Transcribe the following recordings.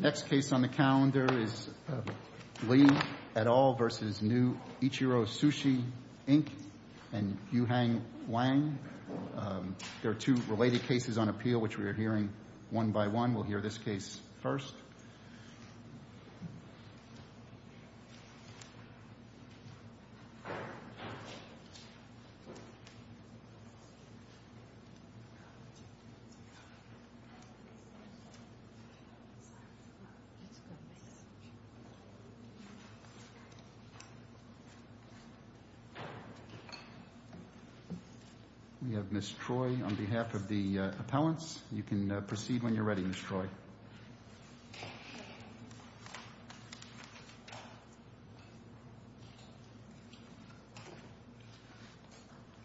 The next case on the calendar is Lee et al. v. New Ichiro Sushi, Inc. and Yuhang Wang. There are two related cases on appeal, which we are hearing one by one. We'll hear this case first. We have Ms. Troy on behalf of the appellants. You can proceed when you're ready, Ms. Troy.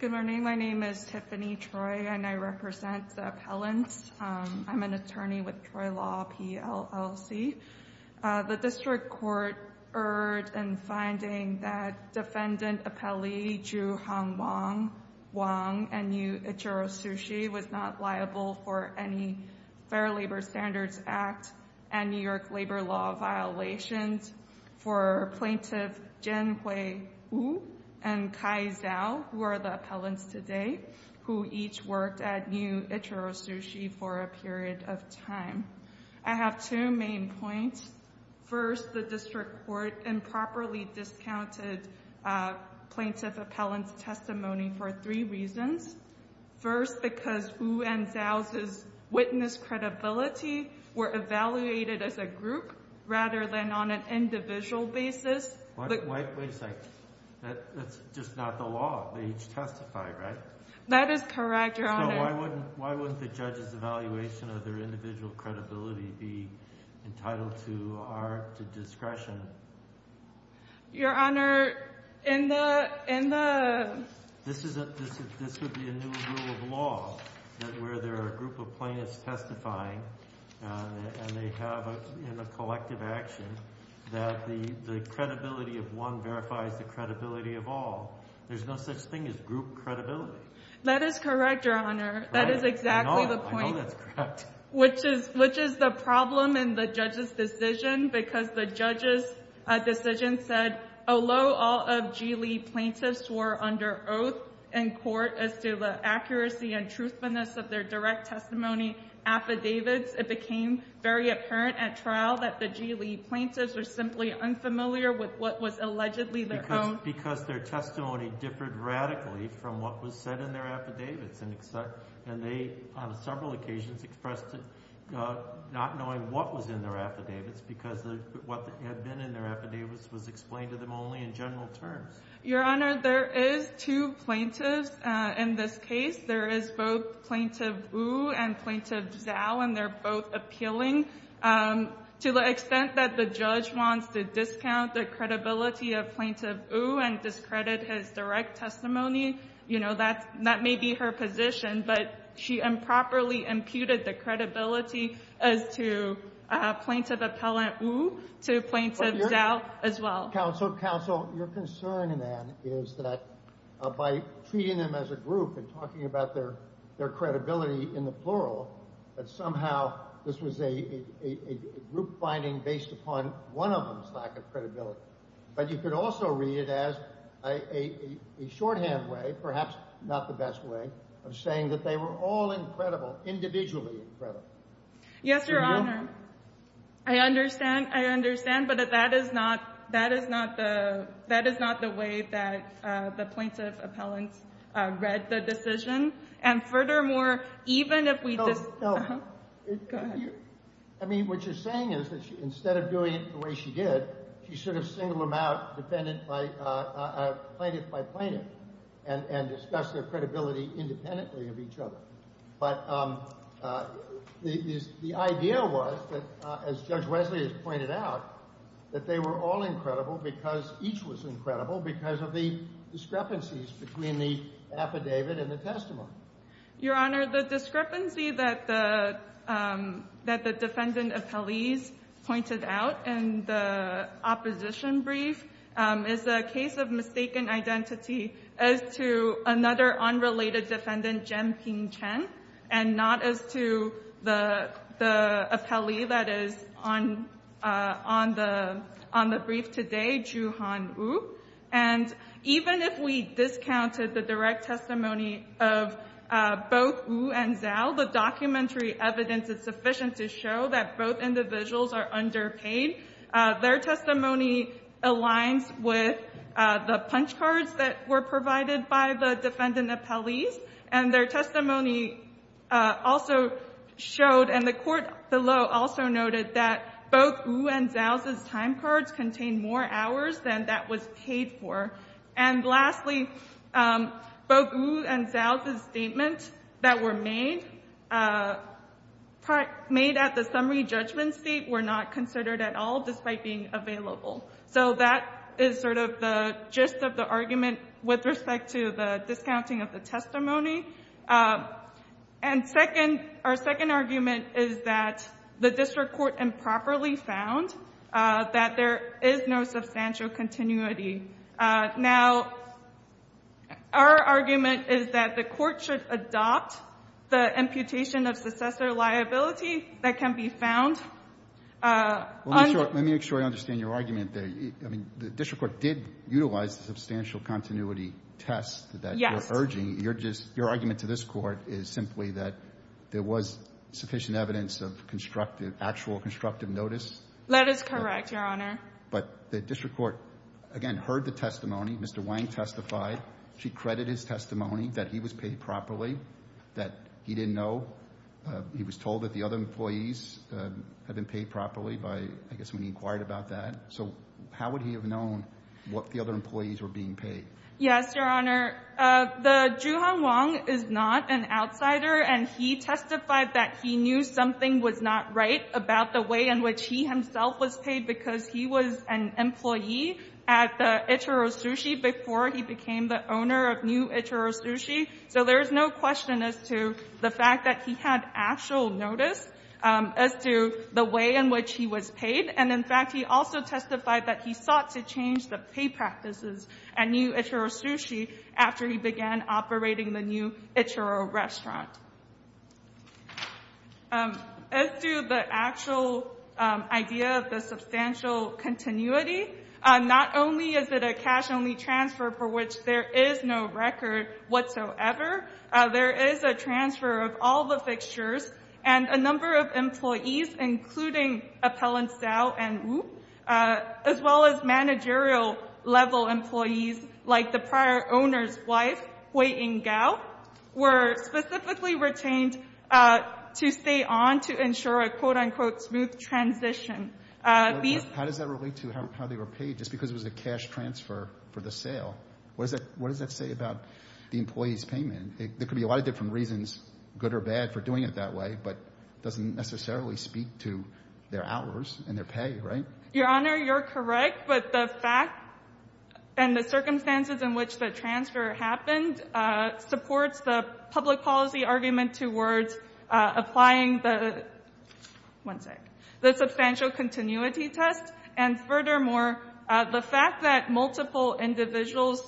Good morning. My name is Tiffany Troy, and I represent the appellants. I'm an attorney with Troy Law, PLLC. The district court erred in finding that defendant appellee Yuhang Wang and New Ichiro Sushi was not liable for any Fair Labor Standards Act and New York labor law violations for plaintiff Jianhui Wu and Kai Zhao, who are the appellants today, who each worked at New Ichiro Sushi for a period of time. I have two main points. First, the district court improperly discounted plaintiff appellant's testimony for three reasons. First, because Wu and Zhao's witness credibility were evaluated as a group rather than on an individual basis. Wait a second. That's just not the law. They each testified, right? That is correct, Your Honor. So why wouldn't the judge's evaluation of their individual credibility be entitled to our discretion? Your Honor, in the— This would be a new rule of law where there are a group of plaintiffs testifying and they have a collective action that the credibility of one verifies the credibility of all. There's no such thing as group credibility. That is correct, Your Honor. That is exactly the point. I know that's correct. Which is the problem in the judge's decision because the judge's decision said, although all of G. Lee plaintiffs were under oath in court as to the accuracy and truthfulness of their direct testimony affidavits, it became very apparent at trial that the G. Lee plaintiffs were simply unfamiliar with what was allegedly their own— and they, on several occasions, expressed not knowing what was in their affidavits because what had been in their affidavits was explained to them only in general terms. Your Honor, there is two plaintiffs in this case. There is both Plaintiff Wu and Plaintiff Zhao, and they're both appealing. To the extent that the judge wants to discount the credibility of Plaintiff Wu and discredit his direct testimony, that may be her position, but she improperly imputed the credibility as to Plaintiff Appellant Wu to Plaintiff Zhao as well. Counsel, counsel, your concern, then, is that by treating them as a group and talking about their credibility in the plural, that somehow this was a group finding based upon one of them's lack of credibility. But you could also read it as a shorthand way, perhaps not the best way, of saying that they were all incredible, individually incredible. Yes, Your Honor. I understand, I understand, but that is not the way that the Plaintiff Appellant read the decision. And furthermore, even if we just— Go ahead. I mean, what you're saying is that instead of doing it the way she did, she should have singled them out plaintiff by plaintiff and discussed their credibility independently of each other. But the idea was, as Judge Wesley has pointed out, that they were all incredible because each was incredible because of the discrepancies between the affidavit and the testimony. Your Honor, the discrepancy that the defendant appellees pointed out in the opposition brief is a case of mistaken identity as to another unrelated defendant, Jen Ping Chen, and not as to the appellee that is on the brief today, Ju Han Wu. And even if we discounted the direct testimony of both Wu and Zhao, the documentary evidence is sufficient to show that both individuals are underpaid. Their testimony aligns with the punch cards that were provided by the defendant appellees. And their testimony also showed, and the court below also noted, that both Wu and Zhao's time cards contained more hours than that was paid for. And lastly, both Wu and Zhao's statements that were made at the summary judgment seat were not considered at all despite being available. So that is sort of the gist of the argument with respect to the discounting of the testimony. And our second argument is that the district court improperly found that there is no substantial continuity. Now, our argument is that the court should adopt the imputation of successor liability that can be found on the ---- Let me make sure I understand your argument there. I mean, the district court did utilize the substantial continuity test that you're urging. Yes. Your argument to this Court is simply that there was sufficient evidence of constructive and actual constructive notice. That is correct, Your Honor. But the district court, again, heard the testimony. Mr. Wang testified. She credited his testimony that he was paid properly, that he didn't know. He was told that the other employees had been paid properly by, I guess, when he inquired about that. So how would he have known what the other employees were being paid? Yes, Your Honor. The Juhan Wang is not an outsider, and he testified that he knew something was not right about the way in which he himself was paid because he was an employee at the Ichiro Sushi before he became the owner of new Ichiro Sushi. So there is no question as to the fact that he had actual notice as to the way in which he was paid. And, in fact, he also testified that he sought to change the pay practices at new Ichiro Sushi after he began operating the new Ichiro restaurant. As to the actual idea of the substantial continuity, not only is it a cash-only transfer for which there is no record whatsoever, there is a transfer of all the fixtures and a number of employees, including appellants Dao and Wu, as well as managerial-level employees like the prior owner's wife, Huiying Gao, were specifically retained to stay on to ensure a, quote-unquote, smooth transition. How does that relate to how they were paid just because it was a cash transfer for the sale? What does that say about the employee's payment? There could be a lot of different reasons, good or bad, for doing it that way, but it doesn't necessarily speak to their hours and their pay, right? Your Honor, you're correct. But the fact and the circumstances in which the transfer happened supports the public policy argument towards applying the — one sec — the substantial continuity test and, furthermore, the fact that multiple individuals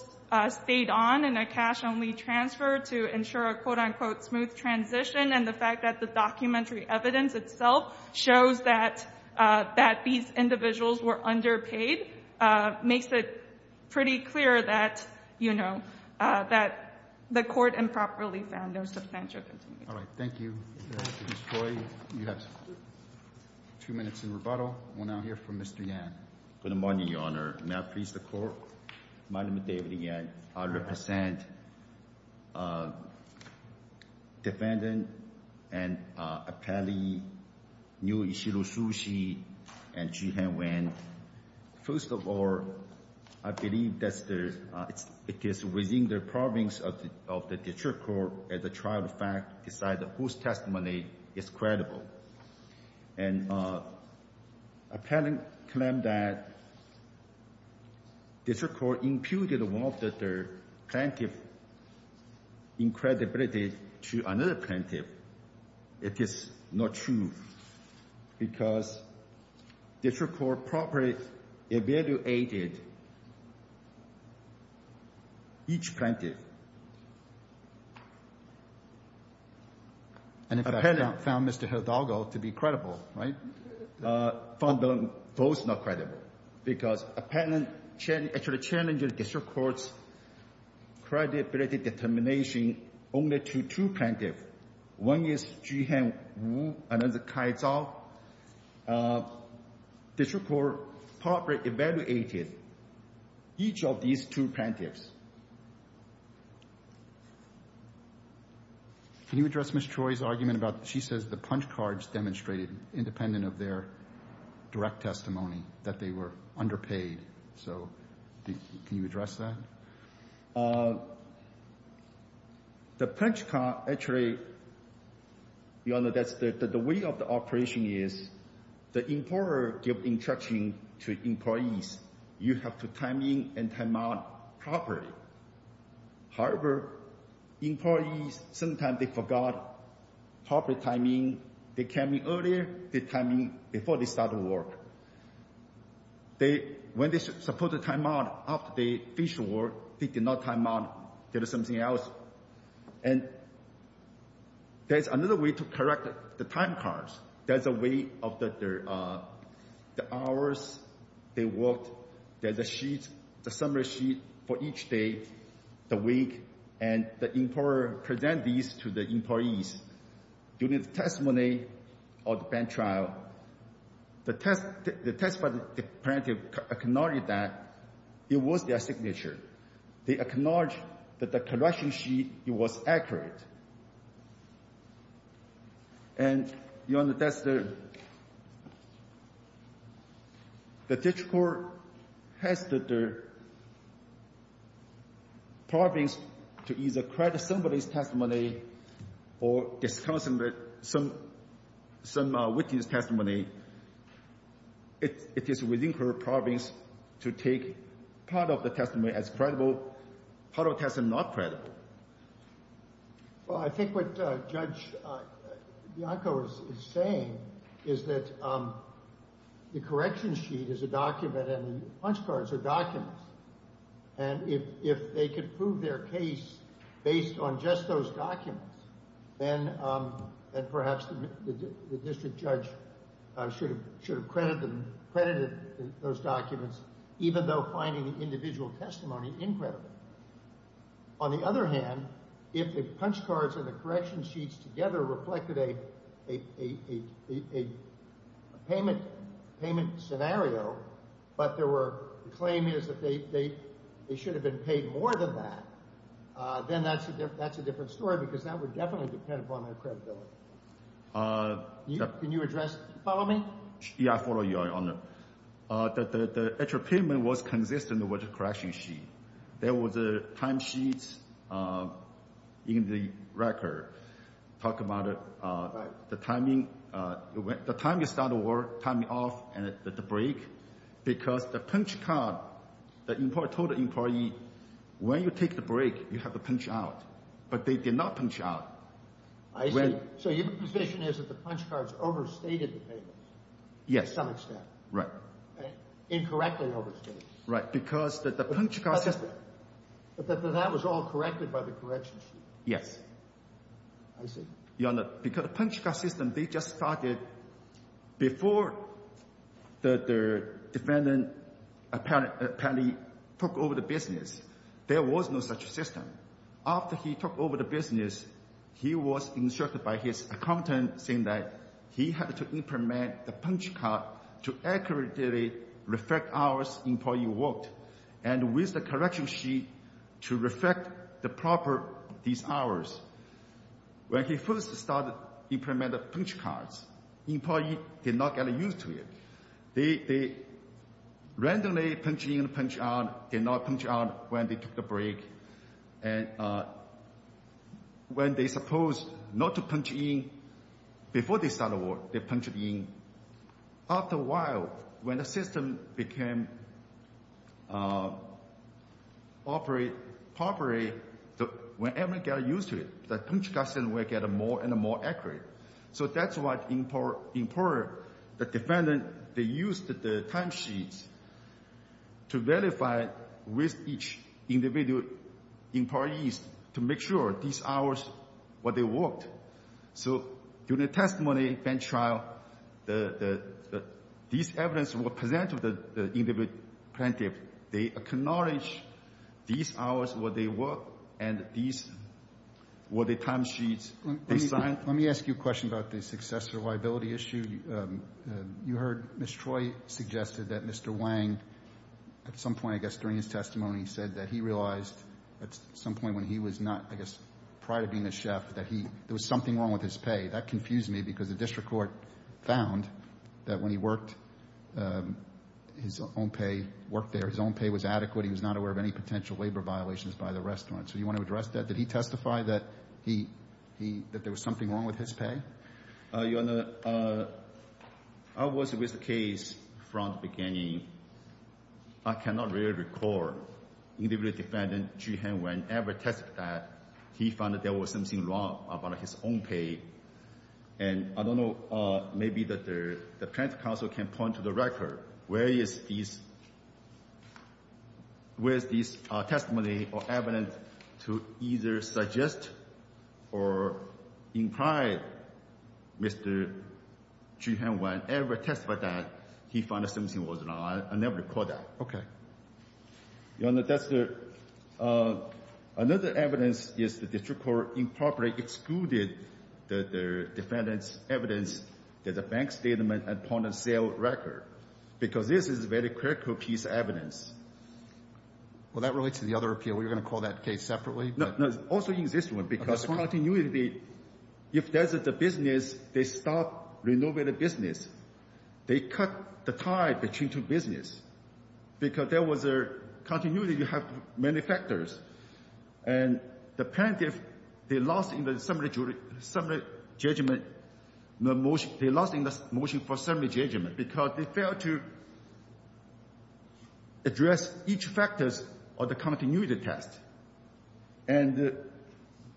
stayed on in a cash-only transfer to ensure a, quote-unquote, smooth transition, and the fact that the documentary evidence itself shows that these individuals were underpaid makes it pretty clear that, you know, that the court improperly found their substantial continuity. All right. Thank you, Ms. Choi. You have two minutes in rebuttal. We'll now hear from Mr. Yan. Good morning, Your Honor. May I please the Court? My name is David Yan. I represent Defendant and Appellee New Ishiro Tsuji and Jiehan Wen. First of all, I believe that it is within the province of the district court, as a trial of fact, to decide whose testimony is credible. And appellant claimed that district court imputed one of the plaintiff's incredibility to another plaintiff. It is not true because district court properly evaluated each plaintiff. And if appellant found Mr. Hidalgo to be credible, right, found them both not credible because appellant actually challenged district court's credibility determination only to two plaintiffs. One is Jiehan Wu, another Kai Zhao. District court properly evaluated each of these two plaintiffs. Can you address Ms. Choi's argument about she says the punch cards demonstrated independent of their direct testimony that they were underpaid? So can you address that? The punch card actually, Your Honor, that's the way of the operation is the employer give instruction to employees, you have to time in and time out properly. However, employees sometimes they forgot proper timing. They came in earlier, they time in before they start work. When they supposed to time out, after they finish work, they did not time out, did something else. And there's another way to correct the time cards. There's a way of the hours they worked, there's a sheet, a summary sheet for each day, the week, and the employer present these to the employees. During the testimony or the bank trial, the testifying plaintiff acknowledged that it was their signature. They acknowledged that the correction sheet was accurate. And, Your Honor, that's the district court has the province to either credit somebody's testimony or discredit some witness testimony. It is within her province to take part of the testimony as credible, part of the testimony not credible. Well, I think what Judge Bianco is saying is that the correction sheet is a document and the punch cards are documents. And if they could prove their case based on just those documents, then perhaps the district judge should have credited those documents, even though finding the individual testimony incredible. On the other hand, if the punch cards and the correction sheets together reflected a payment scenario, but the claim is that they should have been paid more than that, then that's a different story because that would definitely depend upon their credibility. Can you address—follow me? Yeah, I follow you, Your Honor. The actual payment was consistent with the correction sheet. There was a time sheet in the record talking about the timing. The timing of start of work, timing off, and at the break, because the punch card, the employee told the employee, when you take the break, you have to punch out. But they did not punch out. I see. So your position is that the punch cards overstated the payments? Yes. To some extent. Right. Incorrectly overstated. Right, because the punch card system— But that was all corrected by the correction sheet. Yes. I see. Your Honor, because the punch card system, they just started before the defendant apparently took over the business. There was no such system. After he took over the business, he was instructed by his accountant, saying that he had to implement the punch card to accurately reflect hours the employee worked, and with the correction sheet to reflect the proper these hours. When he first started implementing the punch cards, the employee did not get used to it. They randomly punched in, punched out, did not punch out when they took the break. And when they supposed not to punch in before they started work, they punched in. After a while, when the system became operate properly, when the employee got used to it, the punch card system would get more and more accurate. So that's why, in part, the defendant, they used the timesheets to verify with each individual employees to make sure these hours, what they worked. So during the testimony bench trial, these evidence were presented to the plaintiff. They acknowledged these hours, what they worked, and these were the timesheets. Let me ask you a question about the successor liability issue. You heard Ms. Troy suggested that Mr. Wang, at some point, I guess, during his testimony, said that he realized at some point when he was not, I guess, prior to being a chef, that there was something wrong with his pay. That confused me because the district court found that when he worked, his own pay worked there. His own pay was adequate. He was not aware of any potential labor violations by the restaurant. So do you want to address that? Did he testify that he, that there was something wrong with his pay? Your Honor, I was with the case from the beginning. I cannot really recall. Individual defendant, Chu Heng Wen, ever tested that. He found that there was something wrong about his own pay. And I don't know. Maybe the plaintiff counsel can point to the record. Where is this testimony or evidence to either suggest or imply Mr. Chu Heng Wen ever testified that he found something was wrong? I never recall that. Okay. Your Honor, that's the – another evidence is the district court improperly excluded the defendant's evidence that the bank statement and point of sale record because this is very critical piece of evidence. Well, that relates to the other appeal. We're going to call that case separately. No, also in this one because continuity, if there's a business, they stop renovating business. They cut the tie between two business because there was a continuity. You have many factors. And the plaintiff, they lost in the summary judgment. They lost in the motion for summary judgment because they failed to address each factors of the continuity test. And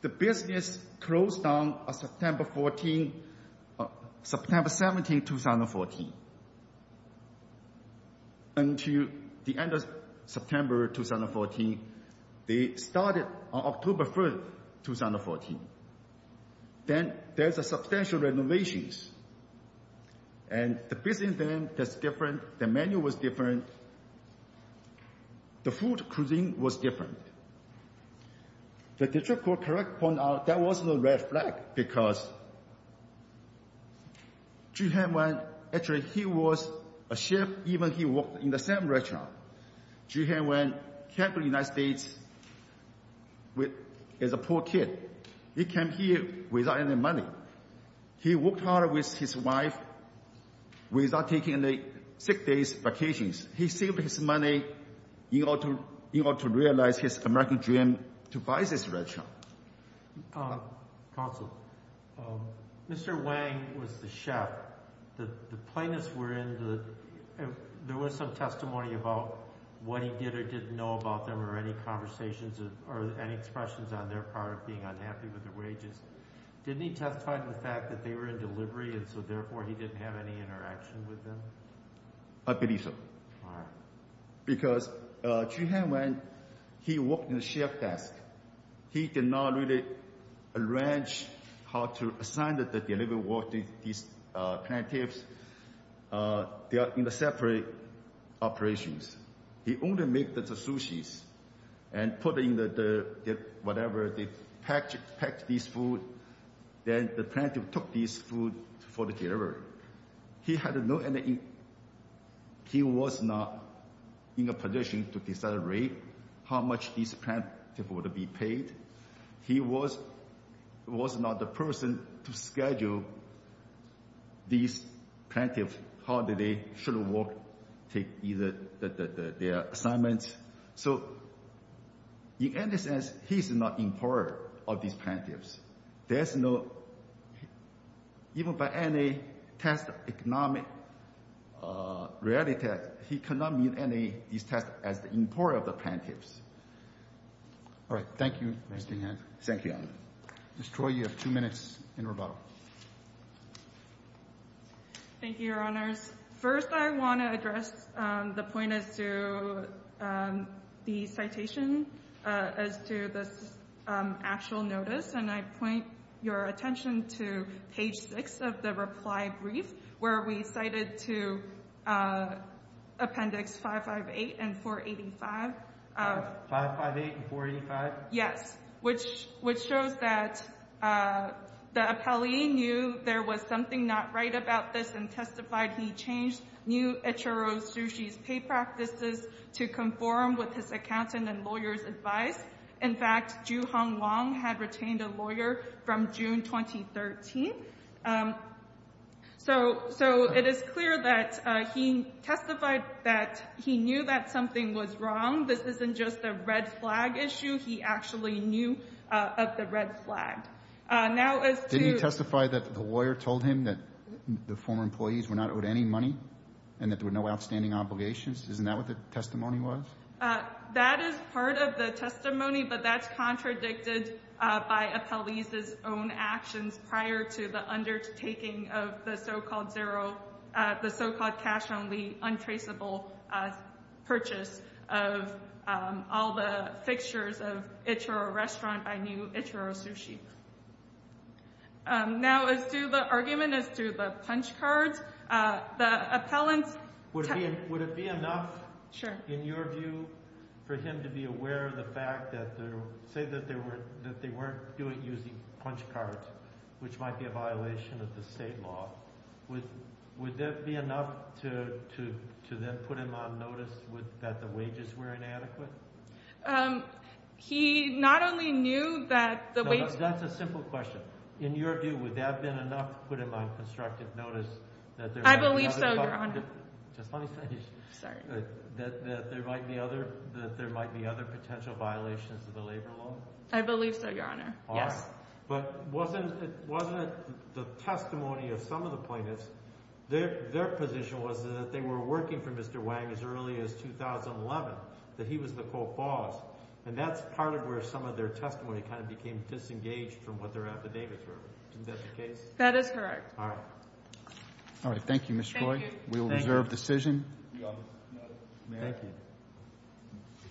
the business closed on September 14th – September 17th, 2014. Until the end of September 2014, they started on October 3rd, 2014. Then there's a substantial renovations. And the business then is different. The menu was different. The food cuisine was different. The district court correct point out that wasn't a red flag because Zhu Hanwen – actually, he was a chef. Even he worked in the same restaurant. Zhu Hanwen came to the United States as a poor kid. He came here without any money. He worked hard with his wife without taking any sick days, vacations. He saved his money in order to realize his American dream to buy this restaurant. Counsel, Mr. Wang was the chef. The plaintiffs were in the – there was some testimony about what he did or didn't know about them or any conversations or any expressions on their part of being unhappy with the wages. Didn't he testify to the fact that they were in delivery and so, therefore, he didn't have any interaction with them? I believe so. Why? Because Zhu Hanwen, he worked in the chef's desk. He did not really arrange how to assign the delivery work to these plaintiffs. They are in separate operations. He only made the sushi and put in the – whatever, they packed this food. Then the plaintiff took this food for the delivery. He had no – he was not in a position to decide how much this plaintiff would be paid. He was not the person to schedule these plaintiffs how they should work, take their assignments. So, in any sense, he's not in power of these plaintiffs. There's no – even by any test of economic reality, he cannot meet any of these tests as the employer of the plaintiffs. All right. Thank you, Mr. Yang. Thank you, Your Honor. Ms. Troy, you have two minutes in rebuttal. Thank you, Your Honors. First, I want to address the point as to the citation as to this actual notice. And I point your attention to page 6 of the reply brief where we cited to Appendix 558 and 485. 558 and 485? Yes, which shows that the appellee knew there was something not right about this and testified he changed new HRO sushi's pay practices to conform with his accountant and lawyer's advice. In fact, Ju Hong Wong had retained a lawyer from June 2013. So it is clear that he testified that he knew that something was wrong. This isn't just a red flag issue. He actually knew of the red flag. Didn't he testify that the lawyer told him that the former employees were not owed any money and that there were no outstanding obligations? Isn't that what the testimony was? That is part of the testimony, but that's contradicted by appellee's own actions prior to the undertaking of the so-called zero, the so-called cash-only, untraceable purchase of all the fixtures of HRO restaurant by new HRO sushi. Now, as to the argument as to the punch cards, the appellant's— Would it be enough— Sure. In your view, for him to be aware of the fact that—say that they weren't using punch cards, which might be a violation of the state law, would that be enough to then put him on notice that the wages were inadequate? He not only knew that the wages— No, that's a simple question. In your view, would that have been enough to put him on constructive notice that— I believe so, Your Honor. Just let me finish. Sorry. That there might be other potential violations of the labor law? I believe so, Your Honor, yes. All right. But wasn't it the testimony of some of the plaintiffs, their position was that they were working for Mr. Wang as early as 2011, that he was the co-boss, and that's part of where some of their testimony kind of became disengaged from what their affidavits were. Isn't that the case? That is correct. All right. All right, thank you, Ms. Croy. Thank you. We will reserve decision. Thank you. Thank you.